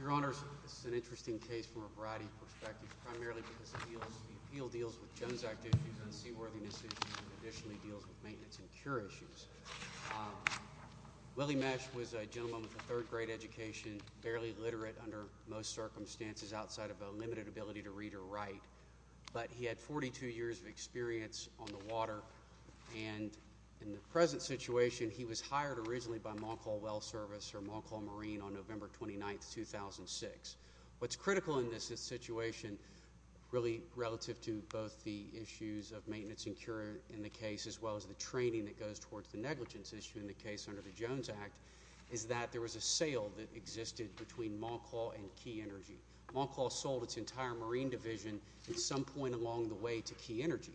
Your Honor, this is an interesting case from a variety of perspectives, primarily because the appeal deals with Jones' activities on seaworthiness issues and additionally deals with maintenance and cure issues. Willie Meche was a gentleman with a third-grade education, barely literate under most circumstances outside of a limited ability to read or write, but he had 42 years of experience on the water, and in the present situation, he was hired originally by Moncal Well Service or Moncal Marine on November 29, 2006. What's critical in this situation, really relative to both the issues of maintenance and cure in the case as well as the training that goes towards the negligence issue in the case under the Jones Act, is that there was a sale that existed between Moncal and Key Energy. Moncal sold its entire marine division at some point along the way to Key Energy.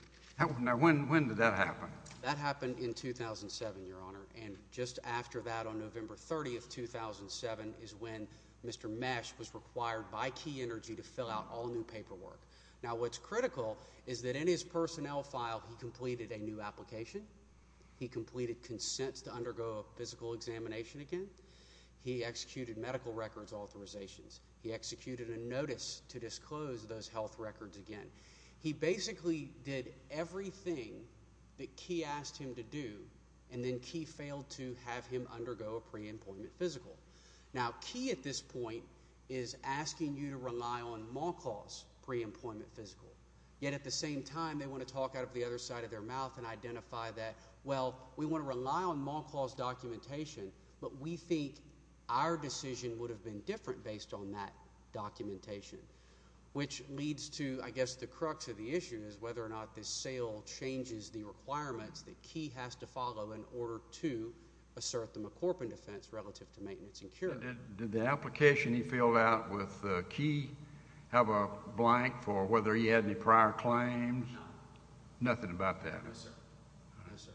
Now, when did that happen? That happened in 2007, Your Honor, and just after that, on November 30, 2007, is when Mr. Meche was required by Key Energy to fill out all new paperwork. Now, what's critical is that in his personnel file, he completed a new application. He completed consents to undergo a physical examination again. He executed medical records authorizations. He executed a notice to disclose those health records again. He basically did everything that Key asked him to do, and then Key failed to have him undergo a pre-employment physical. Now, Key, at this point, is asking you to rely on Moncal's pre-employment physical, yet at the same time, they want to talk out of the other side of their mouth and identify that, well, we want to rely on Moncal's documentation, but we think our decision would have been different based on that documentation, which leads to, I guess, the crux of the issue is whether or not this sale changes the requirements that Key has to follow in order to assert the McCorpin defense relative to maintenance and cure. Did the application he filled out with Key have a blank for whether he had any prior claims? No. Nothing about that? No, sir. No, sir.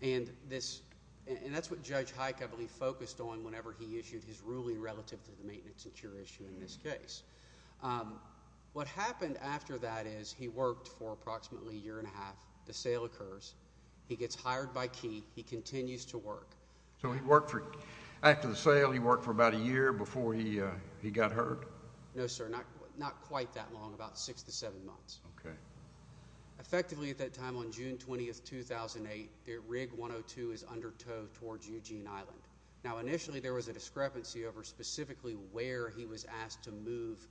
And that's what Judge Heick, I believe, focused on whenever he issued his ruling relative to the maintenance and cure issue in this case. What happened after that is he worked for approximately a year and a half. The sale occurs. He gets hired by Key. He continues to work. So after the sale, he worked for about a year before he got hurt? No, sir, not quite that long, about six to seven months. Okay. Effectively, at that time on June 20th, 2008, the rig 102 is under tow towards Eugene Island. Now, initially, there was a discrepancy over specifically where he was asked to move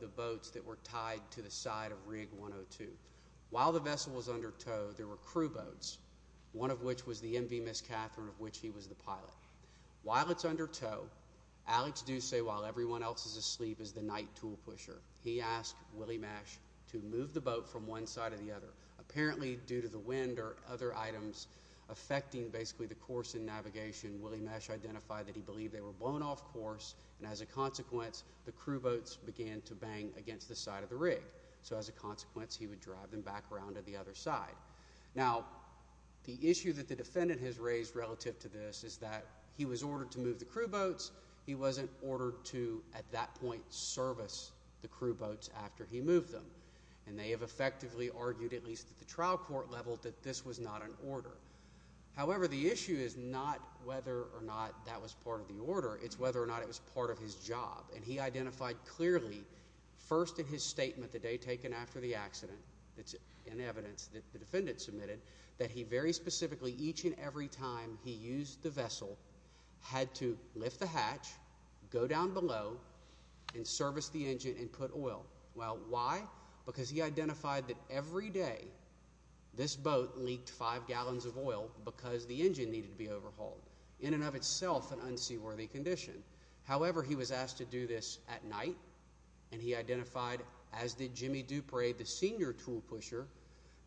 the boats that were tied to the side of rig 102. While the vessel was under tow, there were crew boats, one of which was the MV Miss Catherine, of which he was the pilot. While it's under tow, Alex Ducey, while everyone else is asleep, is the night tool pusher. He asked Willie Mesh to move the boat from one side to the other. Apparently, due to the wind or other items affecting basically the course and navigation, Willie Mesh identified that he believed they were blown off course, and as a consequence, the crew boats began to bang against the side of the rig. So as a consequence, he would drive them back around to the other side. Now, the issue that the defendant has raised relative to this is that he was ordered to move the crew boats. He wasn't ordered to, at that point, service the crew boats after he moved them, and they have effectively argued, at least at the trial court level, that this was not an order. However, the issue is not whether or not that was part of the order. It's whether or not it was part of his job, and he identified clearly, first in his statement the day taken after the accident, in evidence that the defendant submitted, that he very specifically, each and every time he used the vessel, had to lift the hatch, go down below, and service the engine and put oil. Well, why? Because he identified that every day this boat leaked five gallons of oil because the engine needed to be overhauled, in and of itself an unseaworthy condition. However, he was asked to do this at night, and he identified, as did Jimmy Dupre, the senior tool pusher,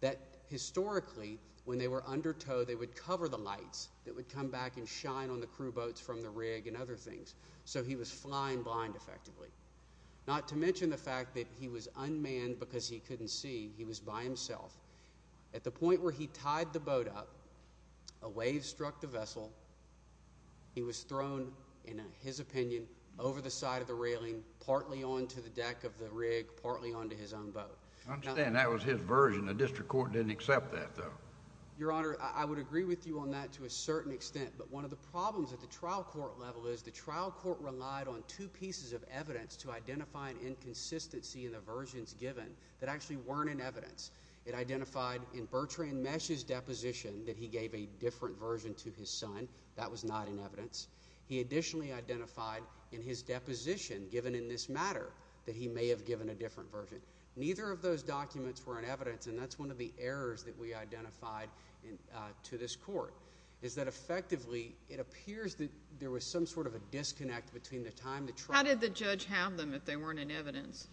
that historically, when they were under tow, they would cover the lights that would come back and shine on the crew boats from the rig and other things, so he was flying blind, effectively. Not to mention the fact that he was unmanned because he couldn't see. He was by himself. At the point where he tied the boat up, a wave struck the vessel. He was thrown, in his opinion, over the side of the railing, partly onto the deck of the rig, partly onto his own boat. I understand that was his version. The district court didn't accept that, though. Your Honor, I would agree with you on that to a certain extent, but one of the problems at the trial court level is the trial court relied on two pieces of evidence to identify an inconsistency in the versions given that actually weren't in evidence. It identified in Bertrand Mesh's deposition that he gave a different version to his son. That was not in evidence. He additionally identified in his deposition, given in this matter, that he may have given a different version. Neither of those documents were in evidence, and that's one of the errors that we identified to this court, is that effectively, it appears that there was some sort of a disconnect between the time the trial— How did the judge have them if they weren't in evidence?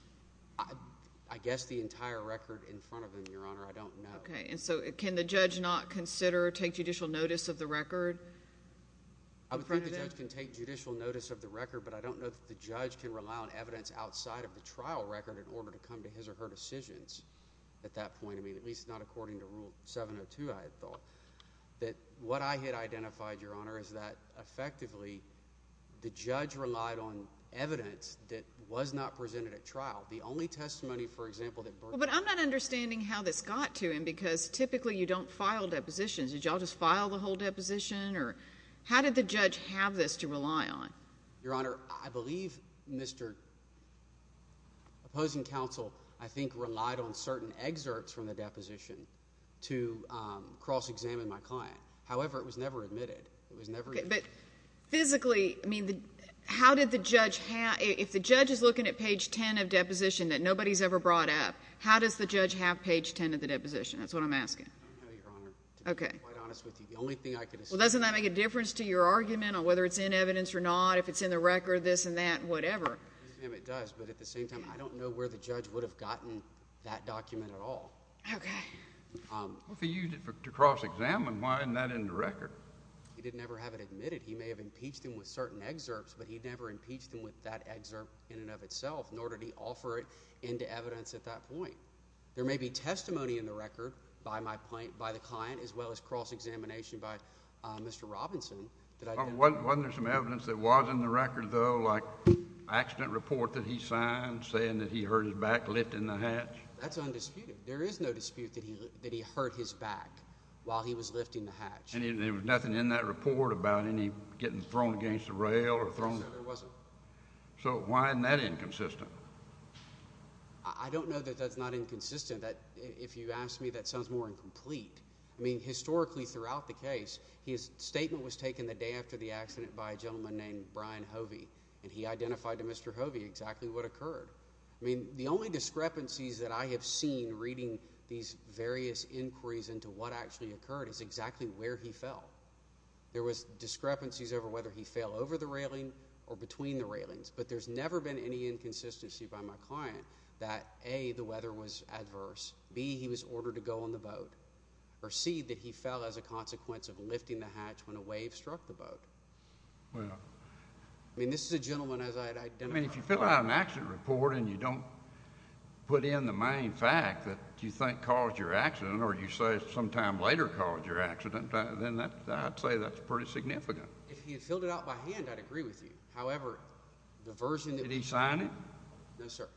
I guess the entire record in front of him, Your Honor. I don't know. Okay, and so can the judge not consider or take judicial notice of the record? I would think the judge can take judicial notice of the record, but I don't know that the judge can rely on evidence outside of the trial record in order to come to his or her decisions at that point. I mean, at least not according to Rule 702, I had thought. What I had identified, Your Honor, is that effectively, the judge relied on evidence that was not presented at trial. The only testimony, for example, that Bertrand— But I'm not understanding how this got to him, because typically you don't file depositions. Did you all just file the whole deposition, or how did the judge have this to rely on? Your Honor, I believe Mr. Opposing Counsel, I think, relied on certain excerpts from the deposition to cross-examine my client. However, it was never admitted. It was never— Okay, but physically, I mean, how did the judge have— If the judge is looking at page 10 of deposition that nobody's ever brought up, how does the judge have page 10 of the deposition? That's what I'm asking. I don't know, Your Honor, to be quite honest with you. The only thing I can— Well, doesn't that make a difference to your argument on whether it's in evidence or not, if it's in the record, this and that, whatever? It does, but at the same time, I don't know where the judge would have gotten that document at all. Okay. If he used it to cross-examine, why isn't that in the record? He didn't ever have it admitted. He may have impeached him with certain excerpts, but he never impeached him with that excerpt in and of itself, nor did he offer it into evidence at that point. There may be testimony in the record by the client as well as cross-examination by Mr. Robinson. Wasn't there some evidence that was in the record, though, like accident report that he signed saying that he hurt his back lifting the hatch? That's undisputed. There is no dispute that he hurt his back while he was lifting the hatch. And there was nothing in that report about him getting thrown against the rail or thrown? No, sir, there wasn't. So why isn't that inconsistent? I don't know that that's not inconsistent. If you ask me, that sounds more incomplete. I mean, historically throughout the case, his statement was taken the day after the accident by a gentleman named Brian Hovey, and he identified to Mr. Hovey exactly what occurred. I mean, the only discrepancies that I have seen reading these various inquiries into what actually occurred is exactly where he fell. There was discrepancies over whether he fell over the railing or between the railings, but there's never been any inconsistency by my client that, A, the weather was adverse, B, he was ordered to go on the boat, or C, that he fell as a consequence of lifting the hatch when a wave struck the boat. I mean, this is a gentleman as I'd identified. I mean, if you fill out an accident report and you don't put in the main fact that you think caused your accident or you say sometime later caused your accident, then I'd say that's pretty significant. If he had filled it out by hand, I'd agree with you. However, the version that— Did he sign it? No, sir.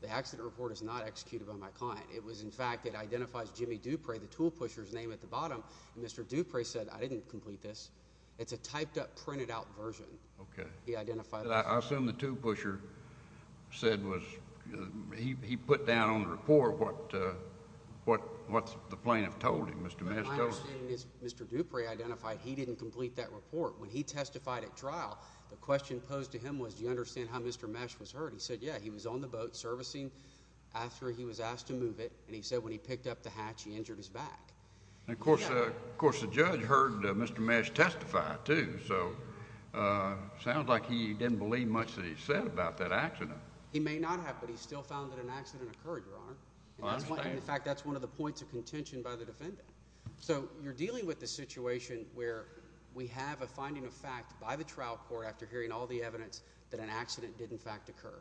The accident report is not executed by my client. It was, in fact, it identifies Jimmy Dupre, the tool pusher's name at the bottom, and Mr. Dupre said, I didn't complete this. It's a typed-up, printed-out version. Okay. He identified— I assume the tool pusher said was—he put down on the report what the plaintiff told him, Mr. Mesh told him. My understanding is Mr. Dupre identified he didn't complete that report. When he testified at trial, the question posed to him was, do you understand how Mr. Mesh was hurt? He said, yeah, he was on the boat servicing after he was asked to move it, and he said when he picked up the hatch, he injured his back. Of course, the judge heard Mr. Mesh testify too, so it sounds like he didn't believe much that he said about that accident. He may not have, but he still found that an accident occurred, Your Honor. I understand. In fact, that's one of the points of contention by the defendant. So you're dealing with a situation where we have a finding of fact by the trial court after hearing all the evidence that an accident did, in fact, occur.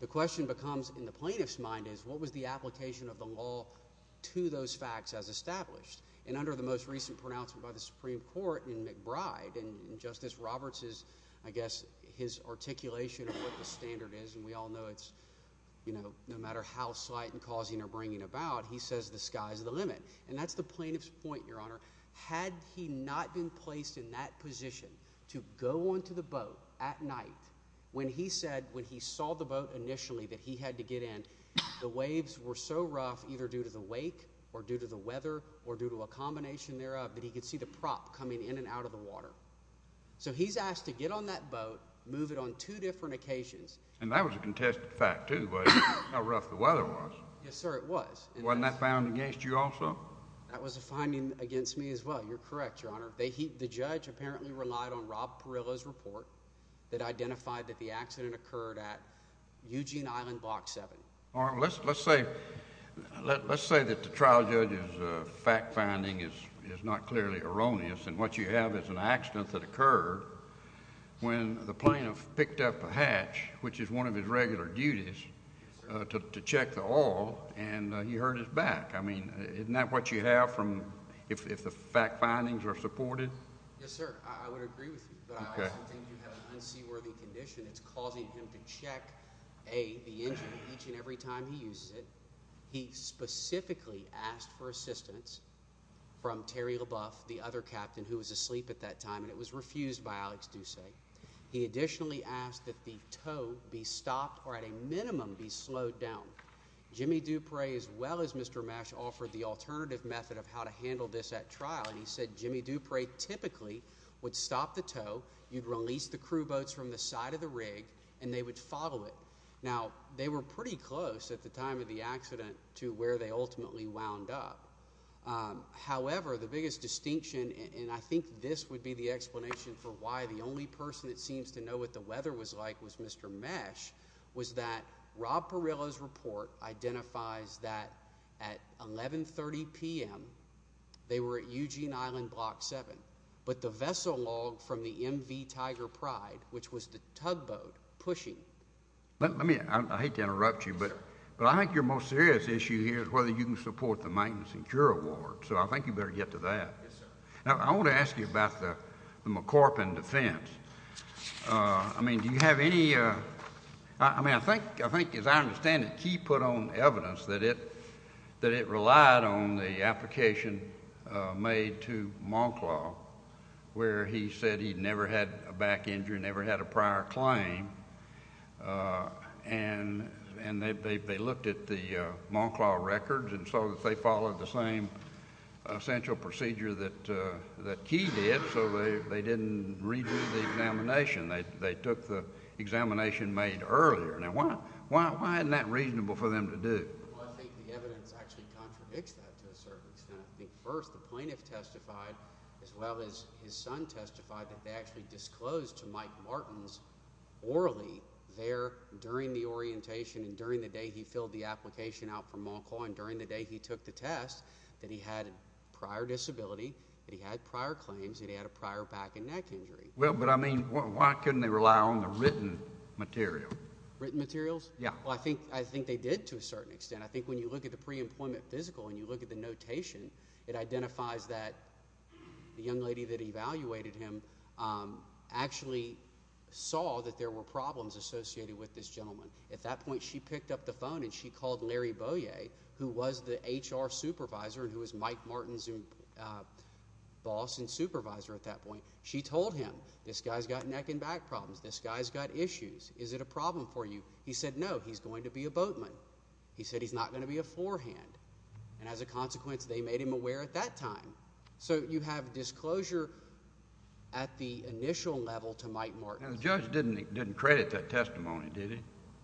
The question becomes, in the plaintiff's mind, is what was the application of the law to those facts as established? And under the most recent pronouncement by the Supreme Court in McBride, and Justice Roberts'—I guess his articulation of what the standard is, and we all know it's, you know, no matter how slight in causing or bringing about, he says the sky's the limit. And that's the plaintiff's point, Your Honor. Had he not been placed in that position to go onto the boat at night, when he said when he saw the boat initially that he had to get in, the waves were so rough either due to the wake or due to the weather or due to a combination thereof that he could see the prop coming in and out of the water. So he's asked to get on that boat, move it on two different occasions. And that was a contested fact, too, about how rough the weather was. Yes, sir, it was. Wasn't that found against you also? That was a finding against me as well. You're correct, Your Honor. The judge apparently relied on Rob Perillo's report that identified that the accident occurred at Eugene Island Block 7. All right. Well, let's say that the trial judge's fact finding is not clearly erroneous, and what you have is an accident that occurred when the plaintiff picked up a hatch, which is one of his regular duties, to check the oil, and he hurt his back. I mean, isn't that what you have if the fact findings are supported? Yes, sir, I would agree with you, but I also think you have an unseaworthy condition. It's causing him to check, A, the engine each and every time he uses it. He specifically asked for assistance from Terry LaBeouf, the other captain who was asleep at that time, and it was refused by Alex Ducey. He additionally asked that the tow be stopped or at a minimum be slowed down. Jimmy Dupre, as well as Mr. Mesh, offered the alternative method of how to handle this at trial, and he said Jimmy Dupre typically would stop the tow, you'd release the crew boats from the side of the rig, and they would follow it. Now, they were pretty close at the time of the accident to where they ultimately wound up. However, the biggest distinction, and I think this would be the explanation for why the only person that seems to know what the weather was like was Mr. Mesh, was that Rob Perillo's report identifies that at 1130 p.m. they were at Eugene Island Block 7, but the vessel log from the MV Tiger Pride, which was the tugboat pushing. I hate to interrupt you, but I think your most serious issue here is whether you can support the maintenance and cure award, so I think you better get to that. Yes, sir. Now, I want to ask you about the McCorp and defense. I mean, do you have any – I mean, I think, as I understand it, he put on evidence that it relied on the application made to Monclaw where he said he'd never had a back injury, never had a prior claim, and they looked at the Monclaw records and saw that they followed the same essential procedure that Key did, so they didn't redo the examination. They took the examination made earlier. Now, why isn't that reasonable for them to do? Well, I think the evidence actually contradicts that to a certain extent. I think first the plaintiff testified as well as his son testified that they actually disclosed to Mike Martins orally there during the orientation and during the day he filled the application out for Monclaw and during the day he took the test that he had a prior disability, that he had prior claims, that he had a prior back and neck injury. Well, but I mean why couldn't they rely on the written material? Written materials? Yes. Well, I think they did to a certain extent. I think when you look at the pre-employment physical and you look at the notation, it identifies that the young lady that evaluated him actually saw that there were problems associated with this gentleman. At that point, she picked up the phone and she called Larry Beaulieu, who was the HR supervisor and who was Mike Martins' boss and supervisor at that point. She told him, this guy's got neck and back problems. This guy's got issues. Is it a problem for you? He said, no, he's going to be a boatman. He said he's not going to be a forehand. And as a consequence, they made him aware at that time. So you have disclosure at the initial level to Mike Martins. The judge didn't credit that testimony, did he?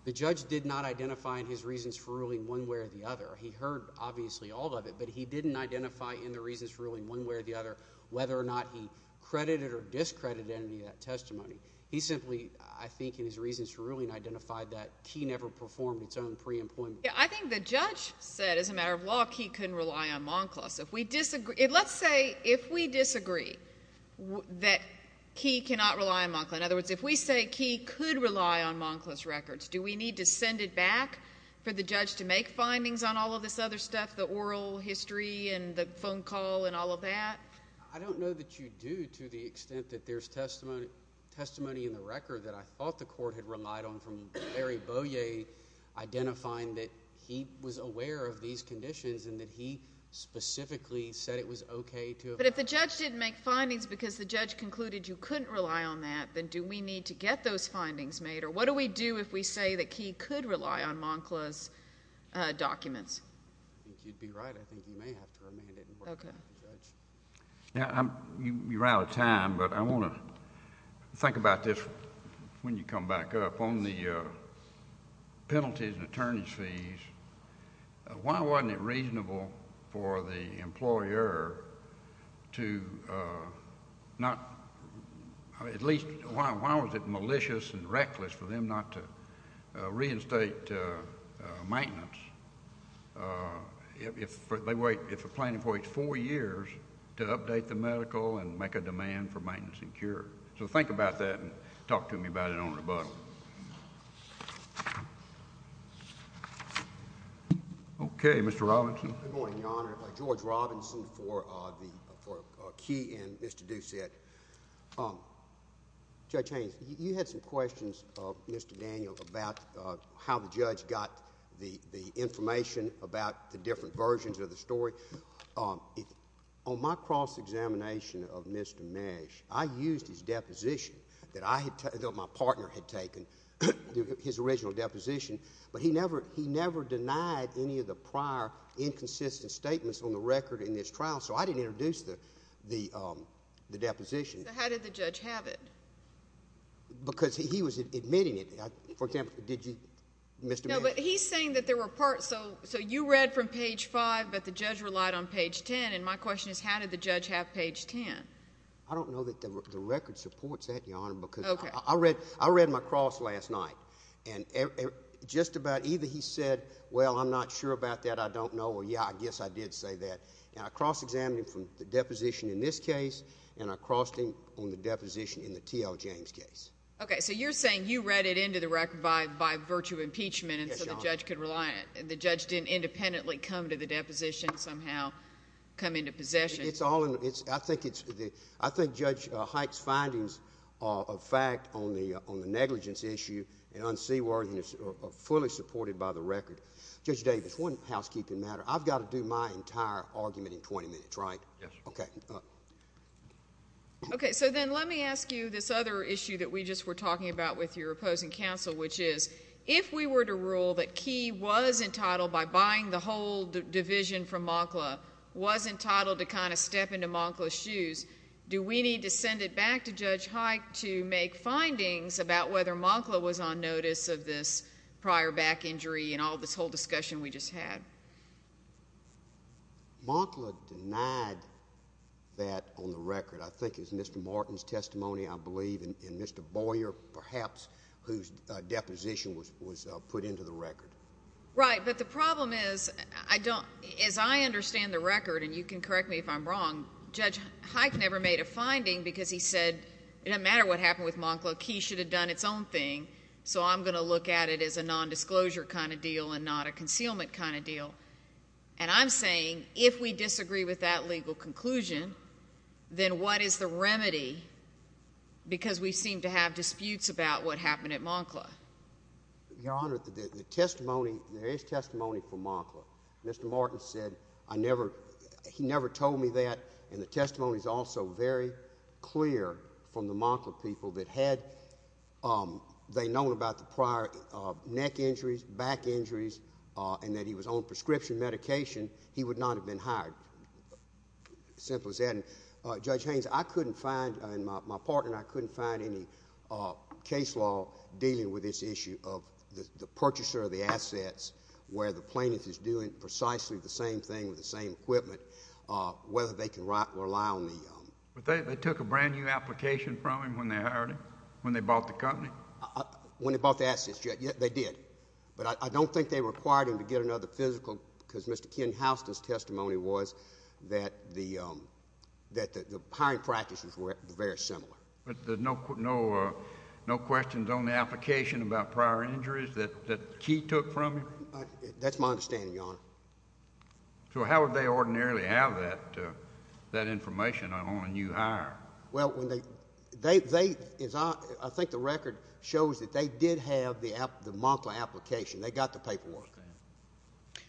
The judge did not identify in his reasons for ruling one way or the other. He heard, obviously, all of it, but he didn't identify in the reasons for ruling one way or the other whether or not he credited or discredited any of that testimony. He simply, I think, in his reasons for ruling, identified that Key never performed its own pre-employment. I think the judge said, as a matter of law, Key couldn't rely on Monklaus. Let's say if we disagree that Key cannot rely on Monklaus. In other words, if we say Key could rely on Monklaus records, do we need to send it back for the judge to make findings on all of this other stuff, the oral history and the phone call and all of that? I don't know that you do to the extent that there's testimony in the record that I thought the court had relied on from Larry Beaulieu identifying that he was aware of these conditions and that he specifically said it was okay to have that. But if the judge didn't make findings because the judge concluded you couldn't rely on that, then do we need to get those findings made, or what do we do if we say that Key could rely on Monklaus documents? If you'd be right, I think you may have to remain in court. Okay. You're out of time, but I want to think about this when you come back up. On the penalties and attorneys' fees, why wasn't it reasonable for the employer to not at least why was it malicious and reckless for them not to reinstate maintenance? If a plaintiff waits four years to update the medical and make a demand for maintenance and cure. So think about that and talk to me about it on rebuttal. Okay, Mr. Robinson. Good morning, Your Honor. George Robinson for Key and Mr. Doucette. Judge Haynes, you had some questions, Mr. Daniel, about how the judge got the information about the different versions of the story. On my cross-examination of Mr. Nash, I used his deposition that my partner had taken, his original deposition, but he never denied any of the prior inconsistent statements on the record in this trial, so I didn't introduce the deposition. How did the judge have it? Because he was admitting it. For example, did you, Mr. Nash? No, but he's saying that there were parts. So you read from page 5, but the judge relied on page 10, and my question is how did the judge have page 10? I don't know that the record supports that, Your Honor, because I read my cross last night, and just about either he said, well, I'm not sure about that, I don't know, or yeah, I guess I did say that. Now, I cross-examined him from the deposition in this case, and I crossed him on the deposition in the T.L. James case. Okay, so you're saying you read it into the record by virtue of impeachment so the judge didn't independently come to the deposition, somehow come into possession. I think Judge Hite's findings of fact on the negligence issue and unseaworthiness are fully supported by the record. Judge Davis, one housekeeping matter. I've got to do my entire argument in 20 minutes, right? Yes. Okay. Okay, so then let me ask you this other issue that we just were talking about with your opposing counsel, which is if we were to rule that Key was entitled, by buying the whole division from Mokla, was entitled to kind of step into Mokla's shoes, do we need to send it back to Judge Hite to make findings about whether Mokla was on notice of this prior back injury and all this whole discussion we just had? Mokla denied that on the record. I think it was Mr. Martin's testimony, I believe, and Mr. Boyer, perhaps, whose deposition was put into the record. Right, but the problem is, as I understand the record, and you can correct me if I'm wrong, Judge Hite never made a finding because he said it didn't matter what happened with Mokla, Key should have done its own thing, so I'm going to look at it as a nondisclosure kind of deal and not a concealment kind of deal. And I'm saying if we disagree with that legal conclusion, then what is the remedy because we seem to have disputes about what happened at Mokla? Your Honor, the testimony, there is testimony from Mokla. Mr. Martin said he never told me that, and the testimony is also very clear from the Mokla people that had they known about the prior neck injuries, back injuries, and that he was on prescription medication, he would not have been hired. As simple as that. Judge Haynes, I couldn't find, and my partner and I couldn't find any case law dealing with this issue of the purchaser of the assets where the plaintiff is doing precisely the same thing with the same equipment, whether they can rely on the- But they took a brand-new application from him when they hired him, when they bought the company? When they bought the assets, Judge, they did. But I don't think they required him to get another physical because Mr. Ken Houston's testimony was that the hiring practices were very similar. But there's no questions on the application about prior injuries that Key took from him? That's my understanding, Your Honor. So how would they ordinarily have that information on a new hire? Well, I think the record shows that they did have the Mokla application. They got the paperwork.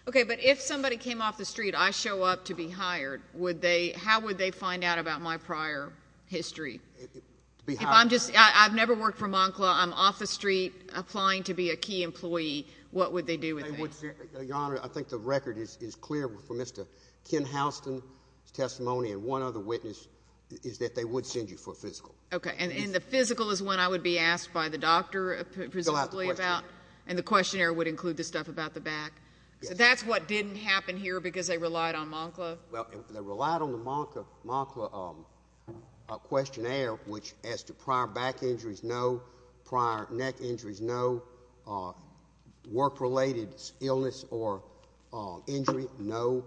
Okay, but if somebody came off the street, I show up to be hired, how would they find out about my prior history? I've never worked for Mokla. I'm off the street applying to be a Key employee. What would they do with me? Your Honor, I think the record is clear for Mr. Ken Houston's testimony, and one other witness is that they would send you for a physical. Okay, and the physical is one I would be asked by the doctor precisely about? Fill out the questionnaire. And the questionnaire would include the stuff about the back? Yes. So that's what didn't happen here because they relied on Mokla? Well, they relied on the Mokla questionnaire, which as to prior back injuries, no. Prior neck injuries, no. Work-related illness or injury, no.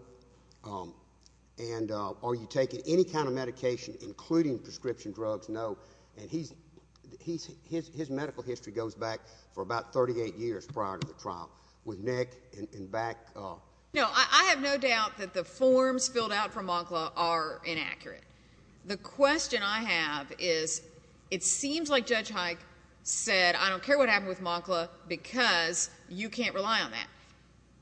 And are you taking any kind of medication, including prescription drugs, no. And his medical history goes back for about 38 years prior to the trial with neck and back. No, I have no doubt that the forms filled out from Mokla are inaccurate. The question I have is it seems like Judge Hike said, I don't care what happened with Mokla because you can't rely on that.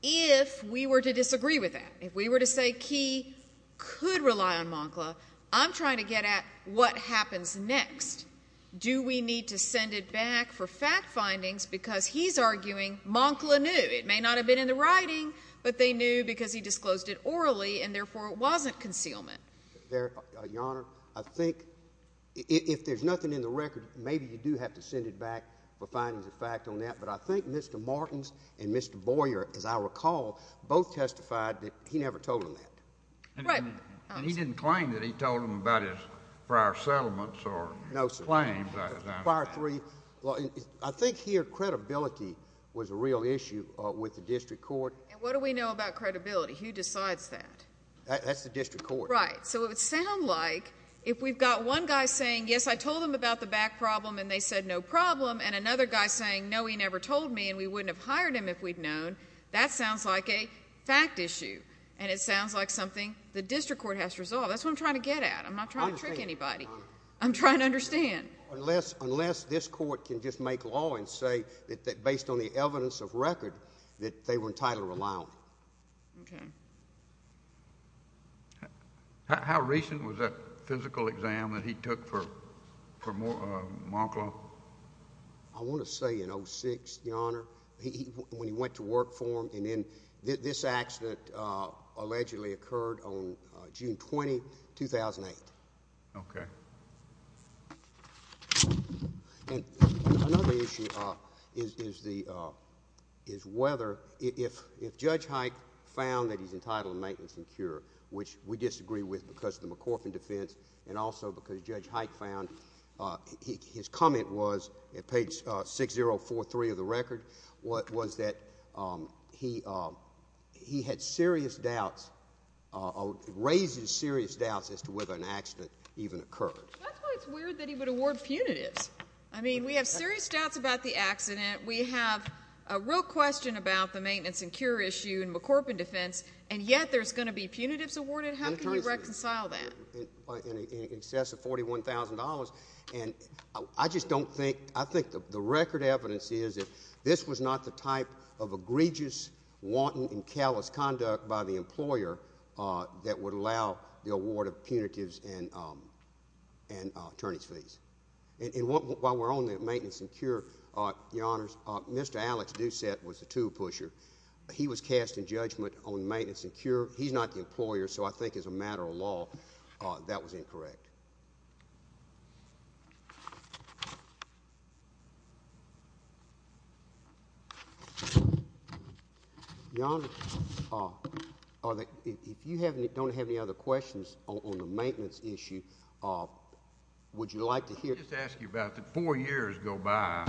If we were to disagree with that, if we were to say Key could rely on Mokla, I'm trying to get at what happens next. Do we need to send it back for fact findings because he's arguing Mokla knew. It may not have been in the writing, but they knew because he disclosed it orally and therefore it wasn't concealment. Your Honor, I think if there's nothing in the record, maybe you do have to send it back for findings of fact on that. But I think Mr. Martins and Mr. Boyer, as I recall, both testified that he never told them that. Right. And he didn't claim that he told them about his prior settlements or claims. No, sir. Prior three. I think here credibility was a real issue with the district court. And what do we know about credibility? Who decides that? That's the district court. Right. So it would sound like if we've got one guy saying, yes, I told them about the back problem and they said no problem, and another guy saying, no, he never told me and we wouldn't have hired him if we'd known, that sounds like a fact issue and it sounds like something the district court has to resolve. That's what I'm trying to get at. I'm not trying to trick anybody. I'm trying to understand. Unless this court can just make law and say that based on the evidence of record that they were entitled to rely on. Okay. How recent was that physical exam that he took for Mock Law? I want to say in 06, Your Honor, when he went to work for them and then this accident allegedly occurred on June 20, 2008. Okay. And another issue is whether if Judge Hike found that he's entitled to maintenance and cure, which we disagree with because of the McCorfin defense and also because Judge Hike found his comment was at page 6043 of the record, was that he had serious doubts or raised serious doubts as to whether an accident even occurred. That's why it's weird that he would award punitives. I mean, we have serious doubts about the accident. We have a real question about the maintenance and cure issue in McCorfin defense, and yet there's going to be punitives awarded? How can you reconcile that? In excess of $41,000. And I just don't think, I think the record evidence is that this was not the type of egregious, wanton, and callous conduct by the employer that would allow the award of punitives and attorney's fees. And while we're on the maintenance and cure, Your Honors, Mr. Alex Doucette was the tool pusher. He was cast in judgment on maintenance and cure. He's not the employer, so I think as a matter of law that was incorrect. Your Honor, if you don't have any other questions on the maintenance issue, would you like to hear? Let me just ask you about the four years go by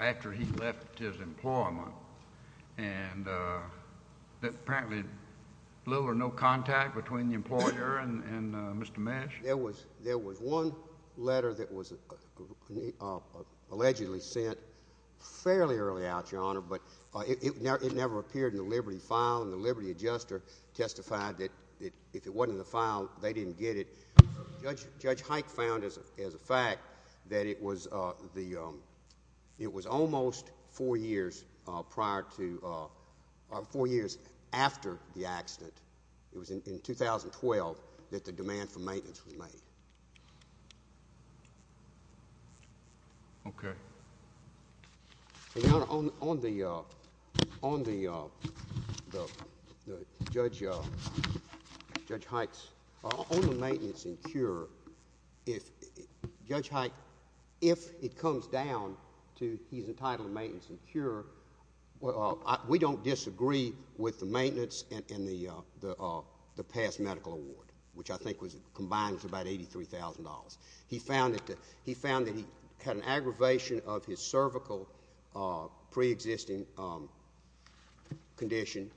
after he left his employment, and apparently little or no contact between the employer and Mr. Mesh? There was one letter that was allegedly sent fairly early out, Your Honor, but it never appeared in the Liberty file, and the Liberty adjuster testified that if it wasn't in the file, they didn't get it. Judge Hike found as a fact that it was almost four years after the accident, it was in 2012, that the demand for maintenance was made. Okay. Your Honor, on the maintenance and cure, Judge Hike, if it comes down to he's entitled to maintenance and cure, we don't disagree with the maintenance and the past medical award, which I think was combined with about $83,000. He found that he had an aggravation of his cervical preexisting condition,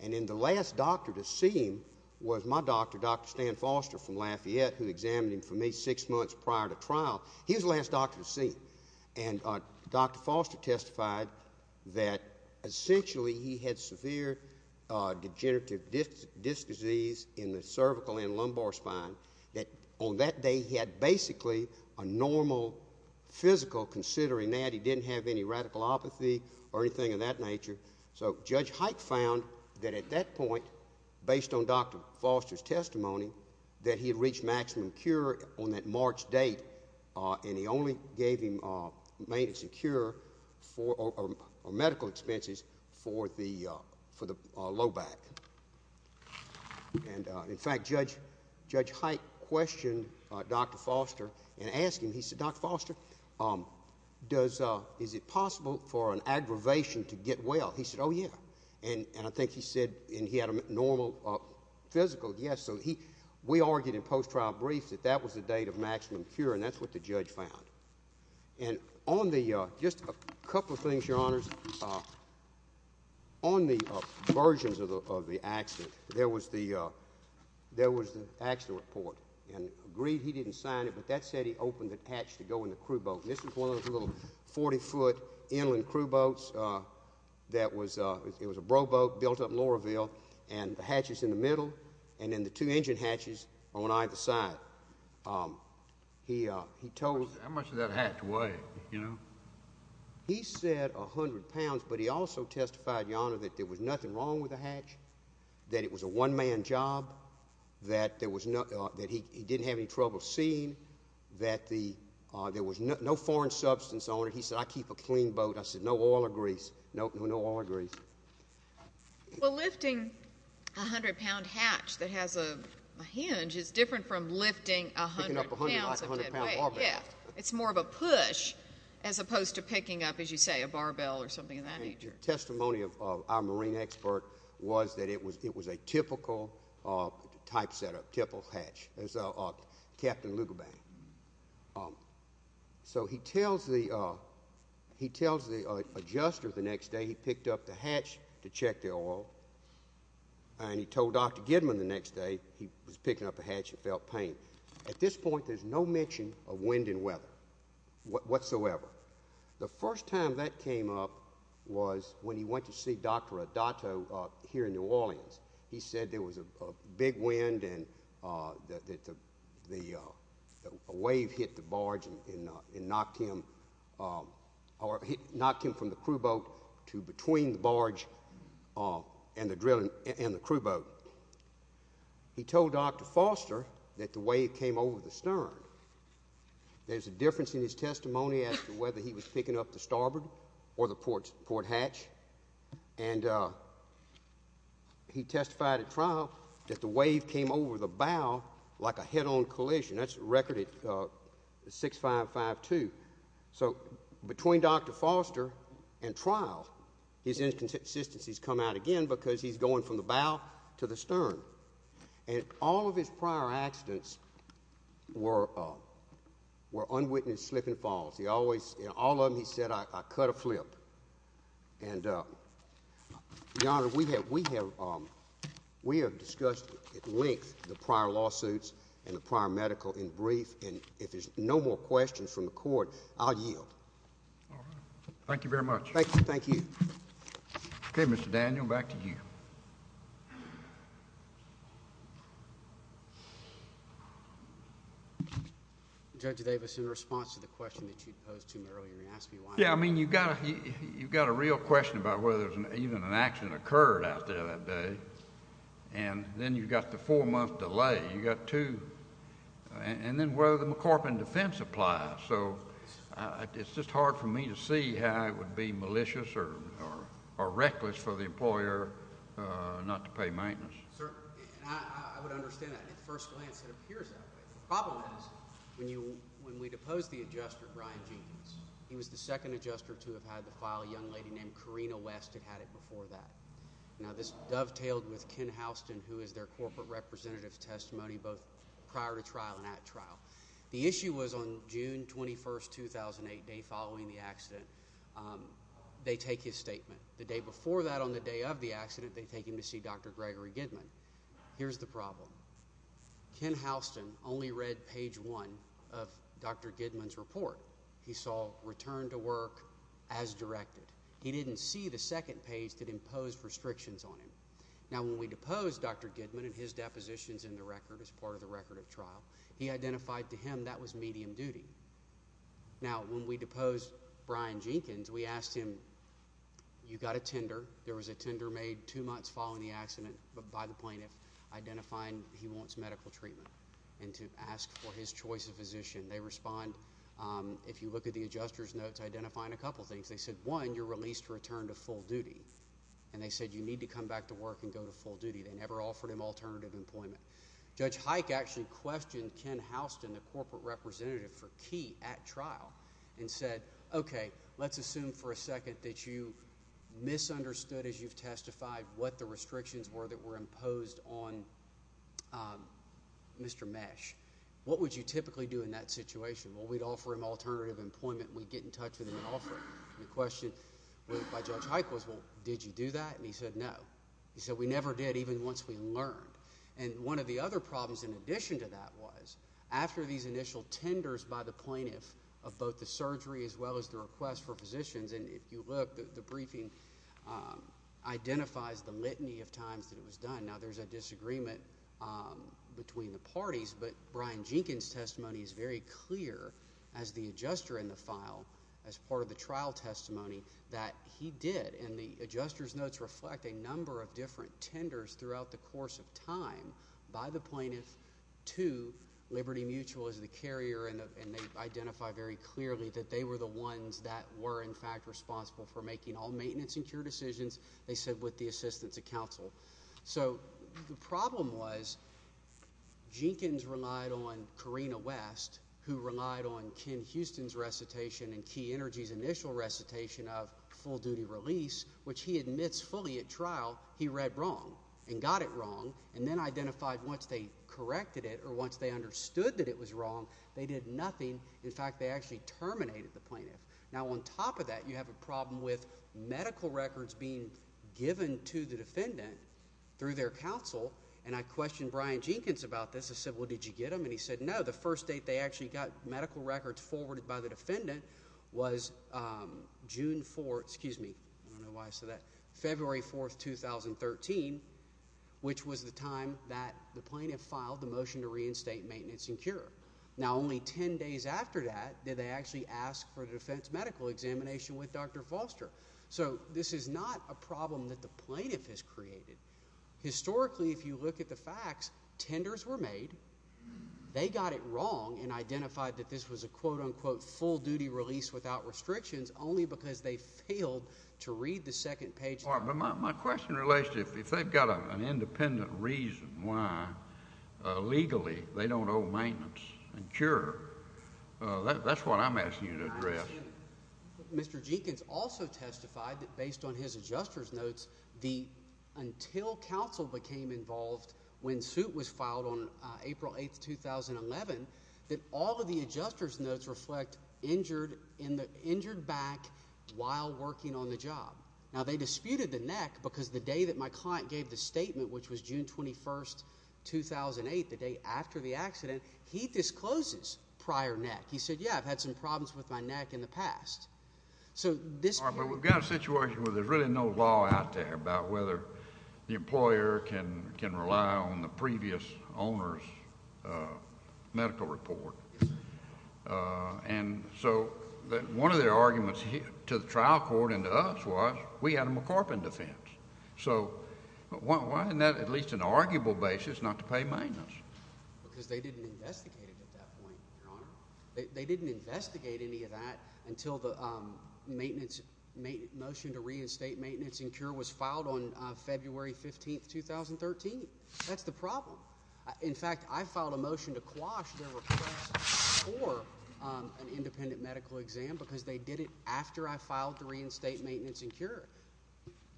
and then the last doctor to see him was my doctor, Dr. Stan Foster from Lafayette, who examined him for me six months prior to trial. He was the last doctor to see him, and Dr. Foster testified that essentially he had severe degenerative disc disease in the cervical and lumbar spine, that on that day he had basically a normal physical, considering that he didn't have any radicalopathy or anything of that nature. So Judge Hike found that at that point, based on Dr. Foster's testimony, that he had reached maximum cure on that March date, and he only gave him maintenance and cure or medical expenses for the low back. And, in fact, Judge Hike questioned Dr. Foster and asked him, he said, Dr. Foster, is it possible for an aggravation to get well? He said, oh, yeah. And I think he said, and he had a normal physical, yes. So we argued in post-trial briefs that that was the date of maximum cure, and that's what the judge found. And just a couple of things, Your Honors. On the versions of the accident, there was the accident report, and agreed he didn't sign it, but that said he opened the hatch to go in the crew boat, and this was one of those little 40-foot inland crew boats. It was a bro boat built up in Laurelville, and the hatch is in the middle, and then the two engine hatches are on either side. How much did that hatch weigh, you know? He said 100 pounds, but he also testified, Your Honor, that there was nothing wrong with the hatch, that it was a one-man job, that he didn't have any trouble seeing, that there was no foreign substance on it. He said, I keep a clean boat. I said, no oil or grease, no oil or grease. Well, lifting a 100-pound hatch that has a hinge is different from lifting 100 pounds of dead weight. It's more of a push as opposed to picking up, as you say, a barbell or something of that nature. Testimony of our marine expert was that it was a typical type setup, typical hatch, as Captain Lugabank. So he tells the adjuster the next day he picked up the hatch to check the oil, and he told Dr. Gidman the next day he was picking up the hatch and felt pain. At this point, there's no mention of wind and weather whatsoever. The first time that came up was when he went to see Dr. Adato here in New Orleans. He said there was a big wind and that a wave hit the barge and knocked him from the crew boat to between the barge and the crew boat. He told Dr. Foster that the wave came over the stern. There's a difference in his testimony as to whether he was picking up the starboard or the port hatch, and he testified at trial that the wave came over the bow like a head-on collision. That's a record at 6552. So between Dr. Foster and trial, his inconsistencies come out again because he's going from the bow to the stern, and all of his prior accidents were unwitnessed slip and falls. All of them, he said, I cut a flip. Your Honor, we have discussed at length the prior lawsuits and the prior medical in brief, and if there's no more questions from the court, I'll yield. Thank you very much. Thank you. Okay, Mr. Daniel, back to you. Thank you. Judge Davis, in response to the question that you posed to me earlier, you asked me why. Yeah, I mean you've got a real question about whether even an accident occurred out there that day, and then you've got the four-month delay. You've got two, and then whether the McCorpin defense applies. So it's just hard for me to see how it would be malicious or reckless for the employer not to pay maintenance. Certainly, and I would understand that. At first glance, it appears that way. The problem is when we deposed the adjuster, Brian Jenkins, he was the second adjuster to have had the file. A young lady named Karina West had had it before that. Now this dovetailed with Ken Houston, who is their corporate representative's testimony both prior to trial and at trial. The issue was on June 21, 2008, the day following the accident, they take his statement. The day before that on the day of the accident, they take him to see Dr. Gregory Gidman. Here's the problem. Ken Houston only read page one of Dr. Gidman's report. He saw return to work as directed. He didn't see the second page that imposed restrictions on him. Now when we deposed Dr. Gidman and his depositions in the record as part of the record at trial, he identified to him that was medium duty. Now when we deposed Brian Jenkins, we asked him, you got a tender. There was a tender made two months following the accident by the plaintiff identifying he wants medical treatment and to ask for his choice of physician. They respond, if you look at the adjuster's notes, identifying a couple things. They said, one, you're released to return to full duty. And they said you need to come back to work and go to full duty. They never offered him alternative employment. Judge Hike actually questioned Ken Houston, the corporate representative for Key at trial, and said, okay, let's assume for a second that you misunderstood, as you've testified, what the restrictions were that were imposed on Mr. Mesh. What would you typically do in that situation? Well, we'd offer him alternative employment. We'd get in touch with him and offer him. The question by Judge Hike was, well, did you do that? And he said, no. He said, we never did, even once we learned. And one of the other problems in addition to that was, after these initial tenders by the plaintiff of both the surgery as well as the request for physicians, and if you look, the briefing identifies the litany of times that it was done. Now, there's a disagreement between the parties, but Brian Jenkins' testimony is very clear as the adjuster in the file, as part of the trial testimony, that he did. And the adjuster's notes reflect a number of different tenders throughout the course of time by the plaintiff to Liberty Mutual as the carrier, and they identify very clearly that they were the ones that were, in fact, responsible for making all maintenance and cure decisions, they said, with the assistance of counsel. So the problem was Jenkins relied on Corrina West, who relied on Ken Houston's recitation and Key Energy's initial recitation of full-duty release, which he admits fully at trial, he read wrong and got it wrong, and then identified once they corrected it or once they understood that it was wrong, they did nothing. In fact, they actually terminated the plaintiff. Now, on top of that, you have a problem with medical records being given to the defendant through their counsel, and I questioned Brian Jenkins about this. I said, well, did you get them? And he said, no, the first date they actually got medical records forwarded by the defendant was June 4th, excuse me, I don't know why I said that, February 4th, 2013, which was the time that the plaintiff filed the motion to reinstate maintenance and cure. Now, only ten days after that did they actually ask for a defense medical examination with Dr. Foster. So this is not a problem that the plaintiff has created. Historically, if you look at the facts, tenders were made. They got it wrong and identified that this was a quote-unquote full-duty release without restrictions only because they failed to read the second page. My question relates to if they've got an independent reason why legally they don't owe maintenance and cure, that's what I'm asking you to address. Mr. Jenkins also testified that based on his adjuster's notes, until counsel became involved when suit was filed on April 8th, 2011, that all of the adjuster's notes reflect injured back while working on the job. Now, they disputed the neck because the day that my client gave the statement, which was June 21st, 2008, the day after the accident, he discloses prior neck. He said, yeah, I've had some problems with my neck in the past. But we've got a situation where there's really no law out there about whether the employer can rely on the previous owner's medical report. And so one of their arguments to the trial court and to us was we had a McCorpin defense. So why isn't that at least an arguable basis not to pay maintenance? Because they didn't investigate it at that point, Your Honor. They didn't investigate any of that until the motion to reinstate maintenance and cure was filed on February 15th, 2013. That's the problem. In fact, I filed a motion to quash their request for an independent medical exam because they did it after I filed to reinstate maintenance and cure.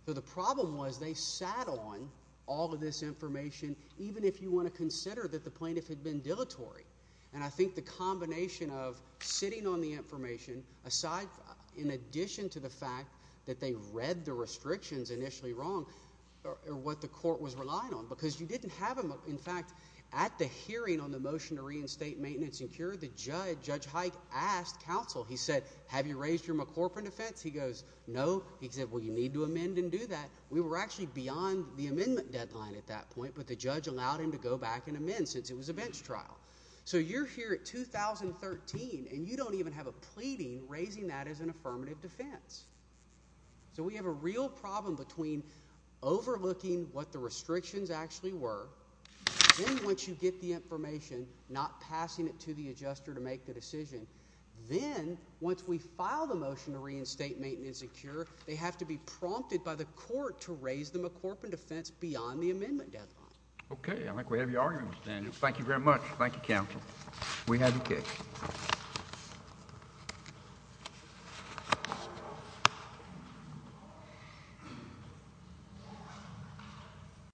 So the problem was they sat on all of this information even if you want to consider that the plaintiff had been dilatory. And I think the combination of sitting on the information aside in addition to the fact that they read the restrictions initially wrong or what the court was relying on because you didn't have them. In fact, at the hearing on the motion to reinstate maintenance and cure, the judge, Judge Hike, asked counsel. He said, have you raised your McCorpin defense? He goes, no. He said, well, you need to amend and do that. We were actually beyond the amendment deadline at that point, but the judge allowed him to go back and amend since it was a bench trial. So you're here at 2013, and you don't even have a pleading raising that as an affirmative defense. So we have a real problem between overlooking what the restrictions actually were. Then once you get the information, not passing it to the adjuster to make the decision, then once we file the motion to reinstate maintenance and cure, they have to be prompted by the court to raise the McCorpin defense beyond the amendment deadline. Okay, I think we have your argument, then. Thank you very much. Thank you, counsel. We have your case.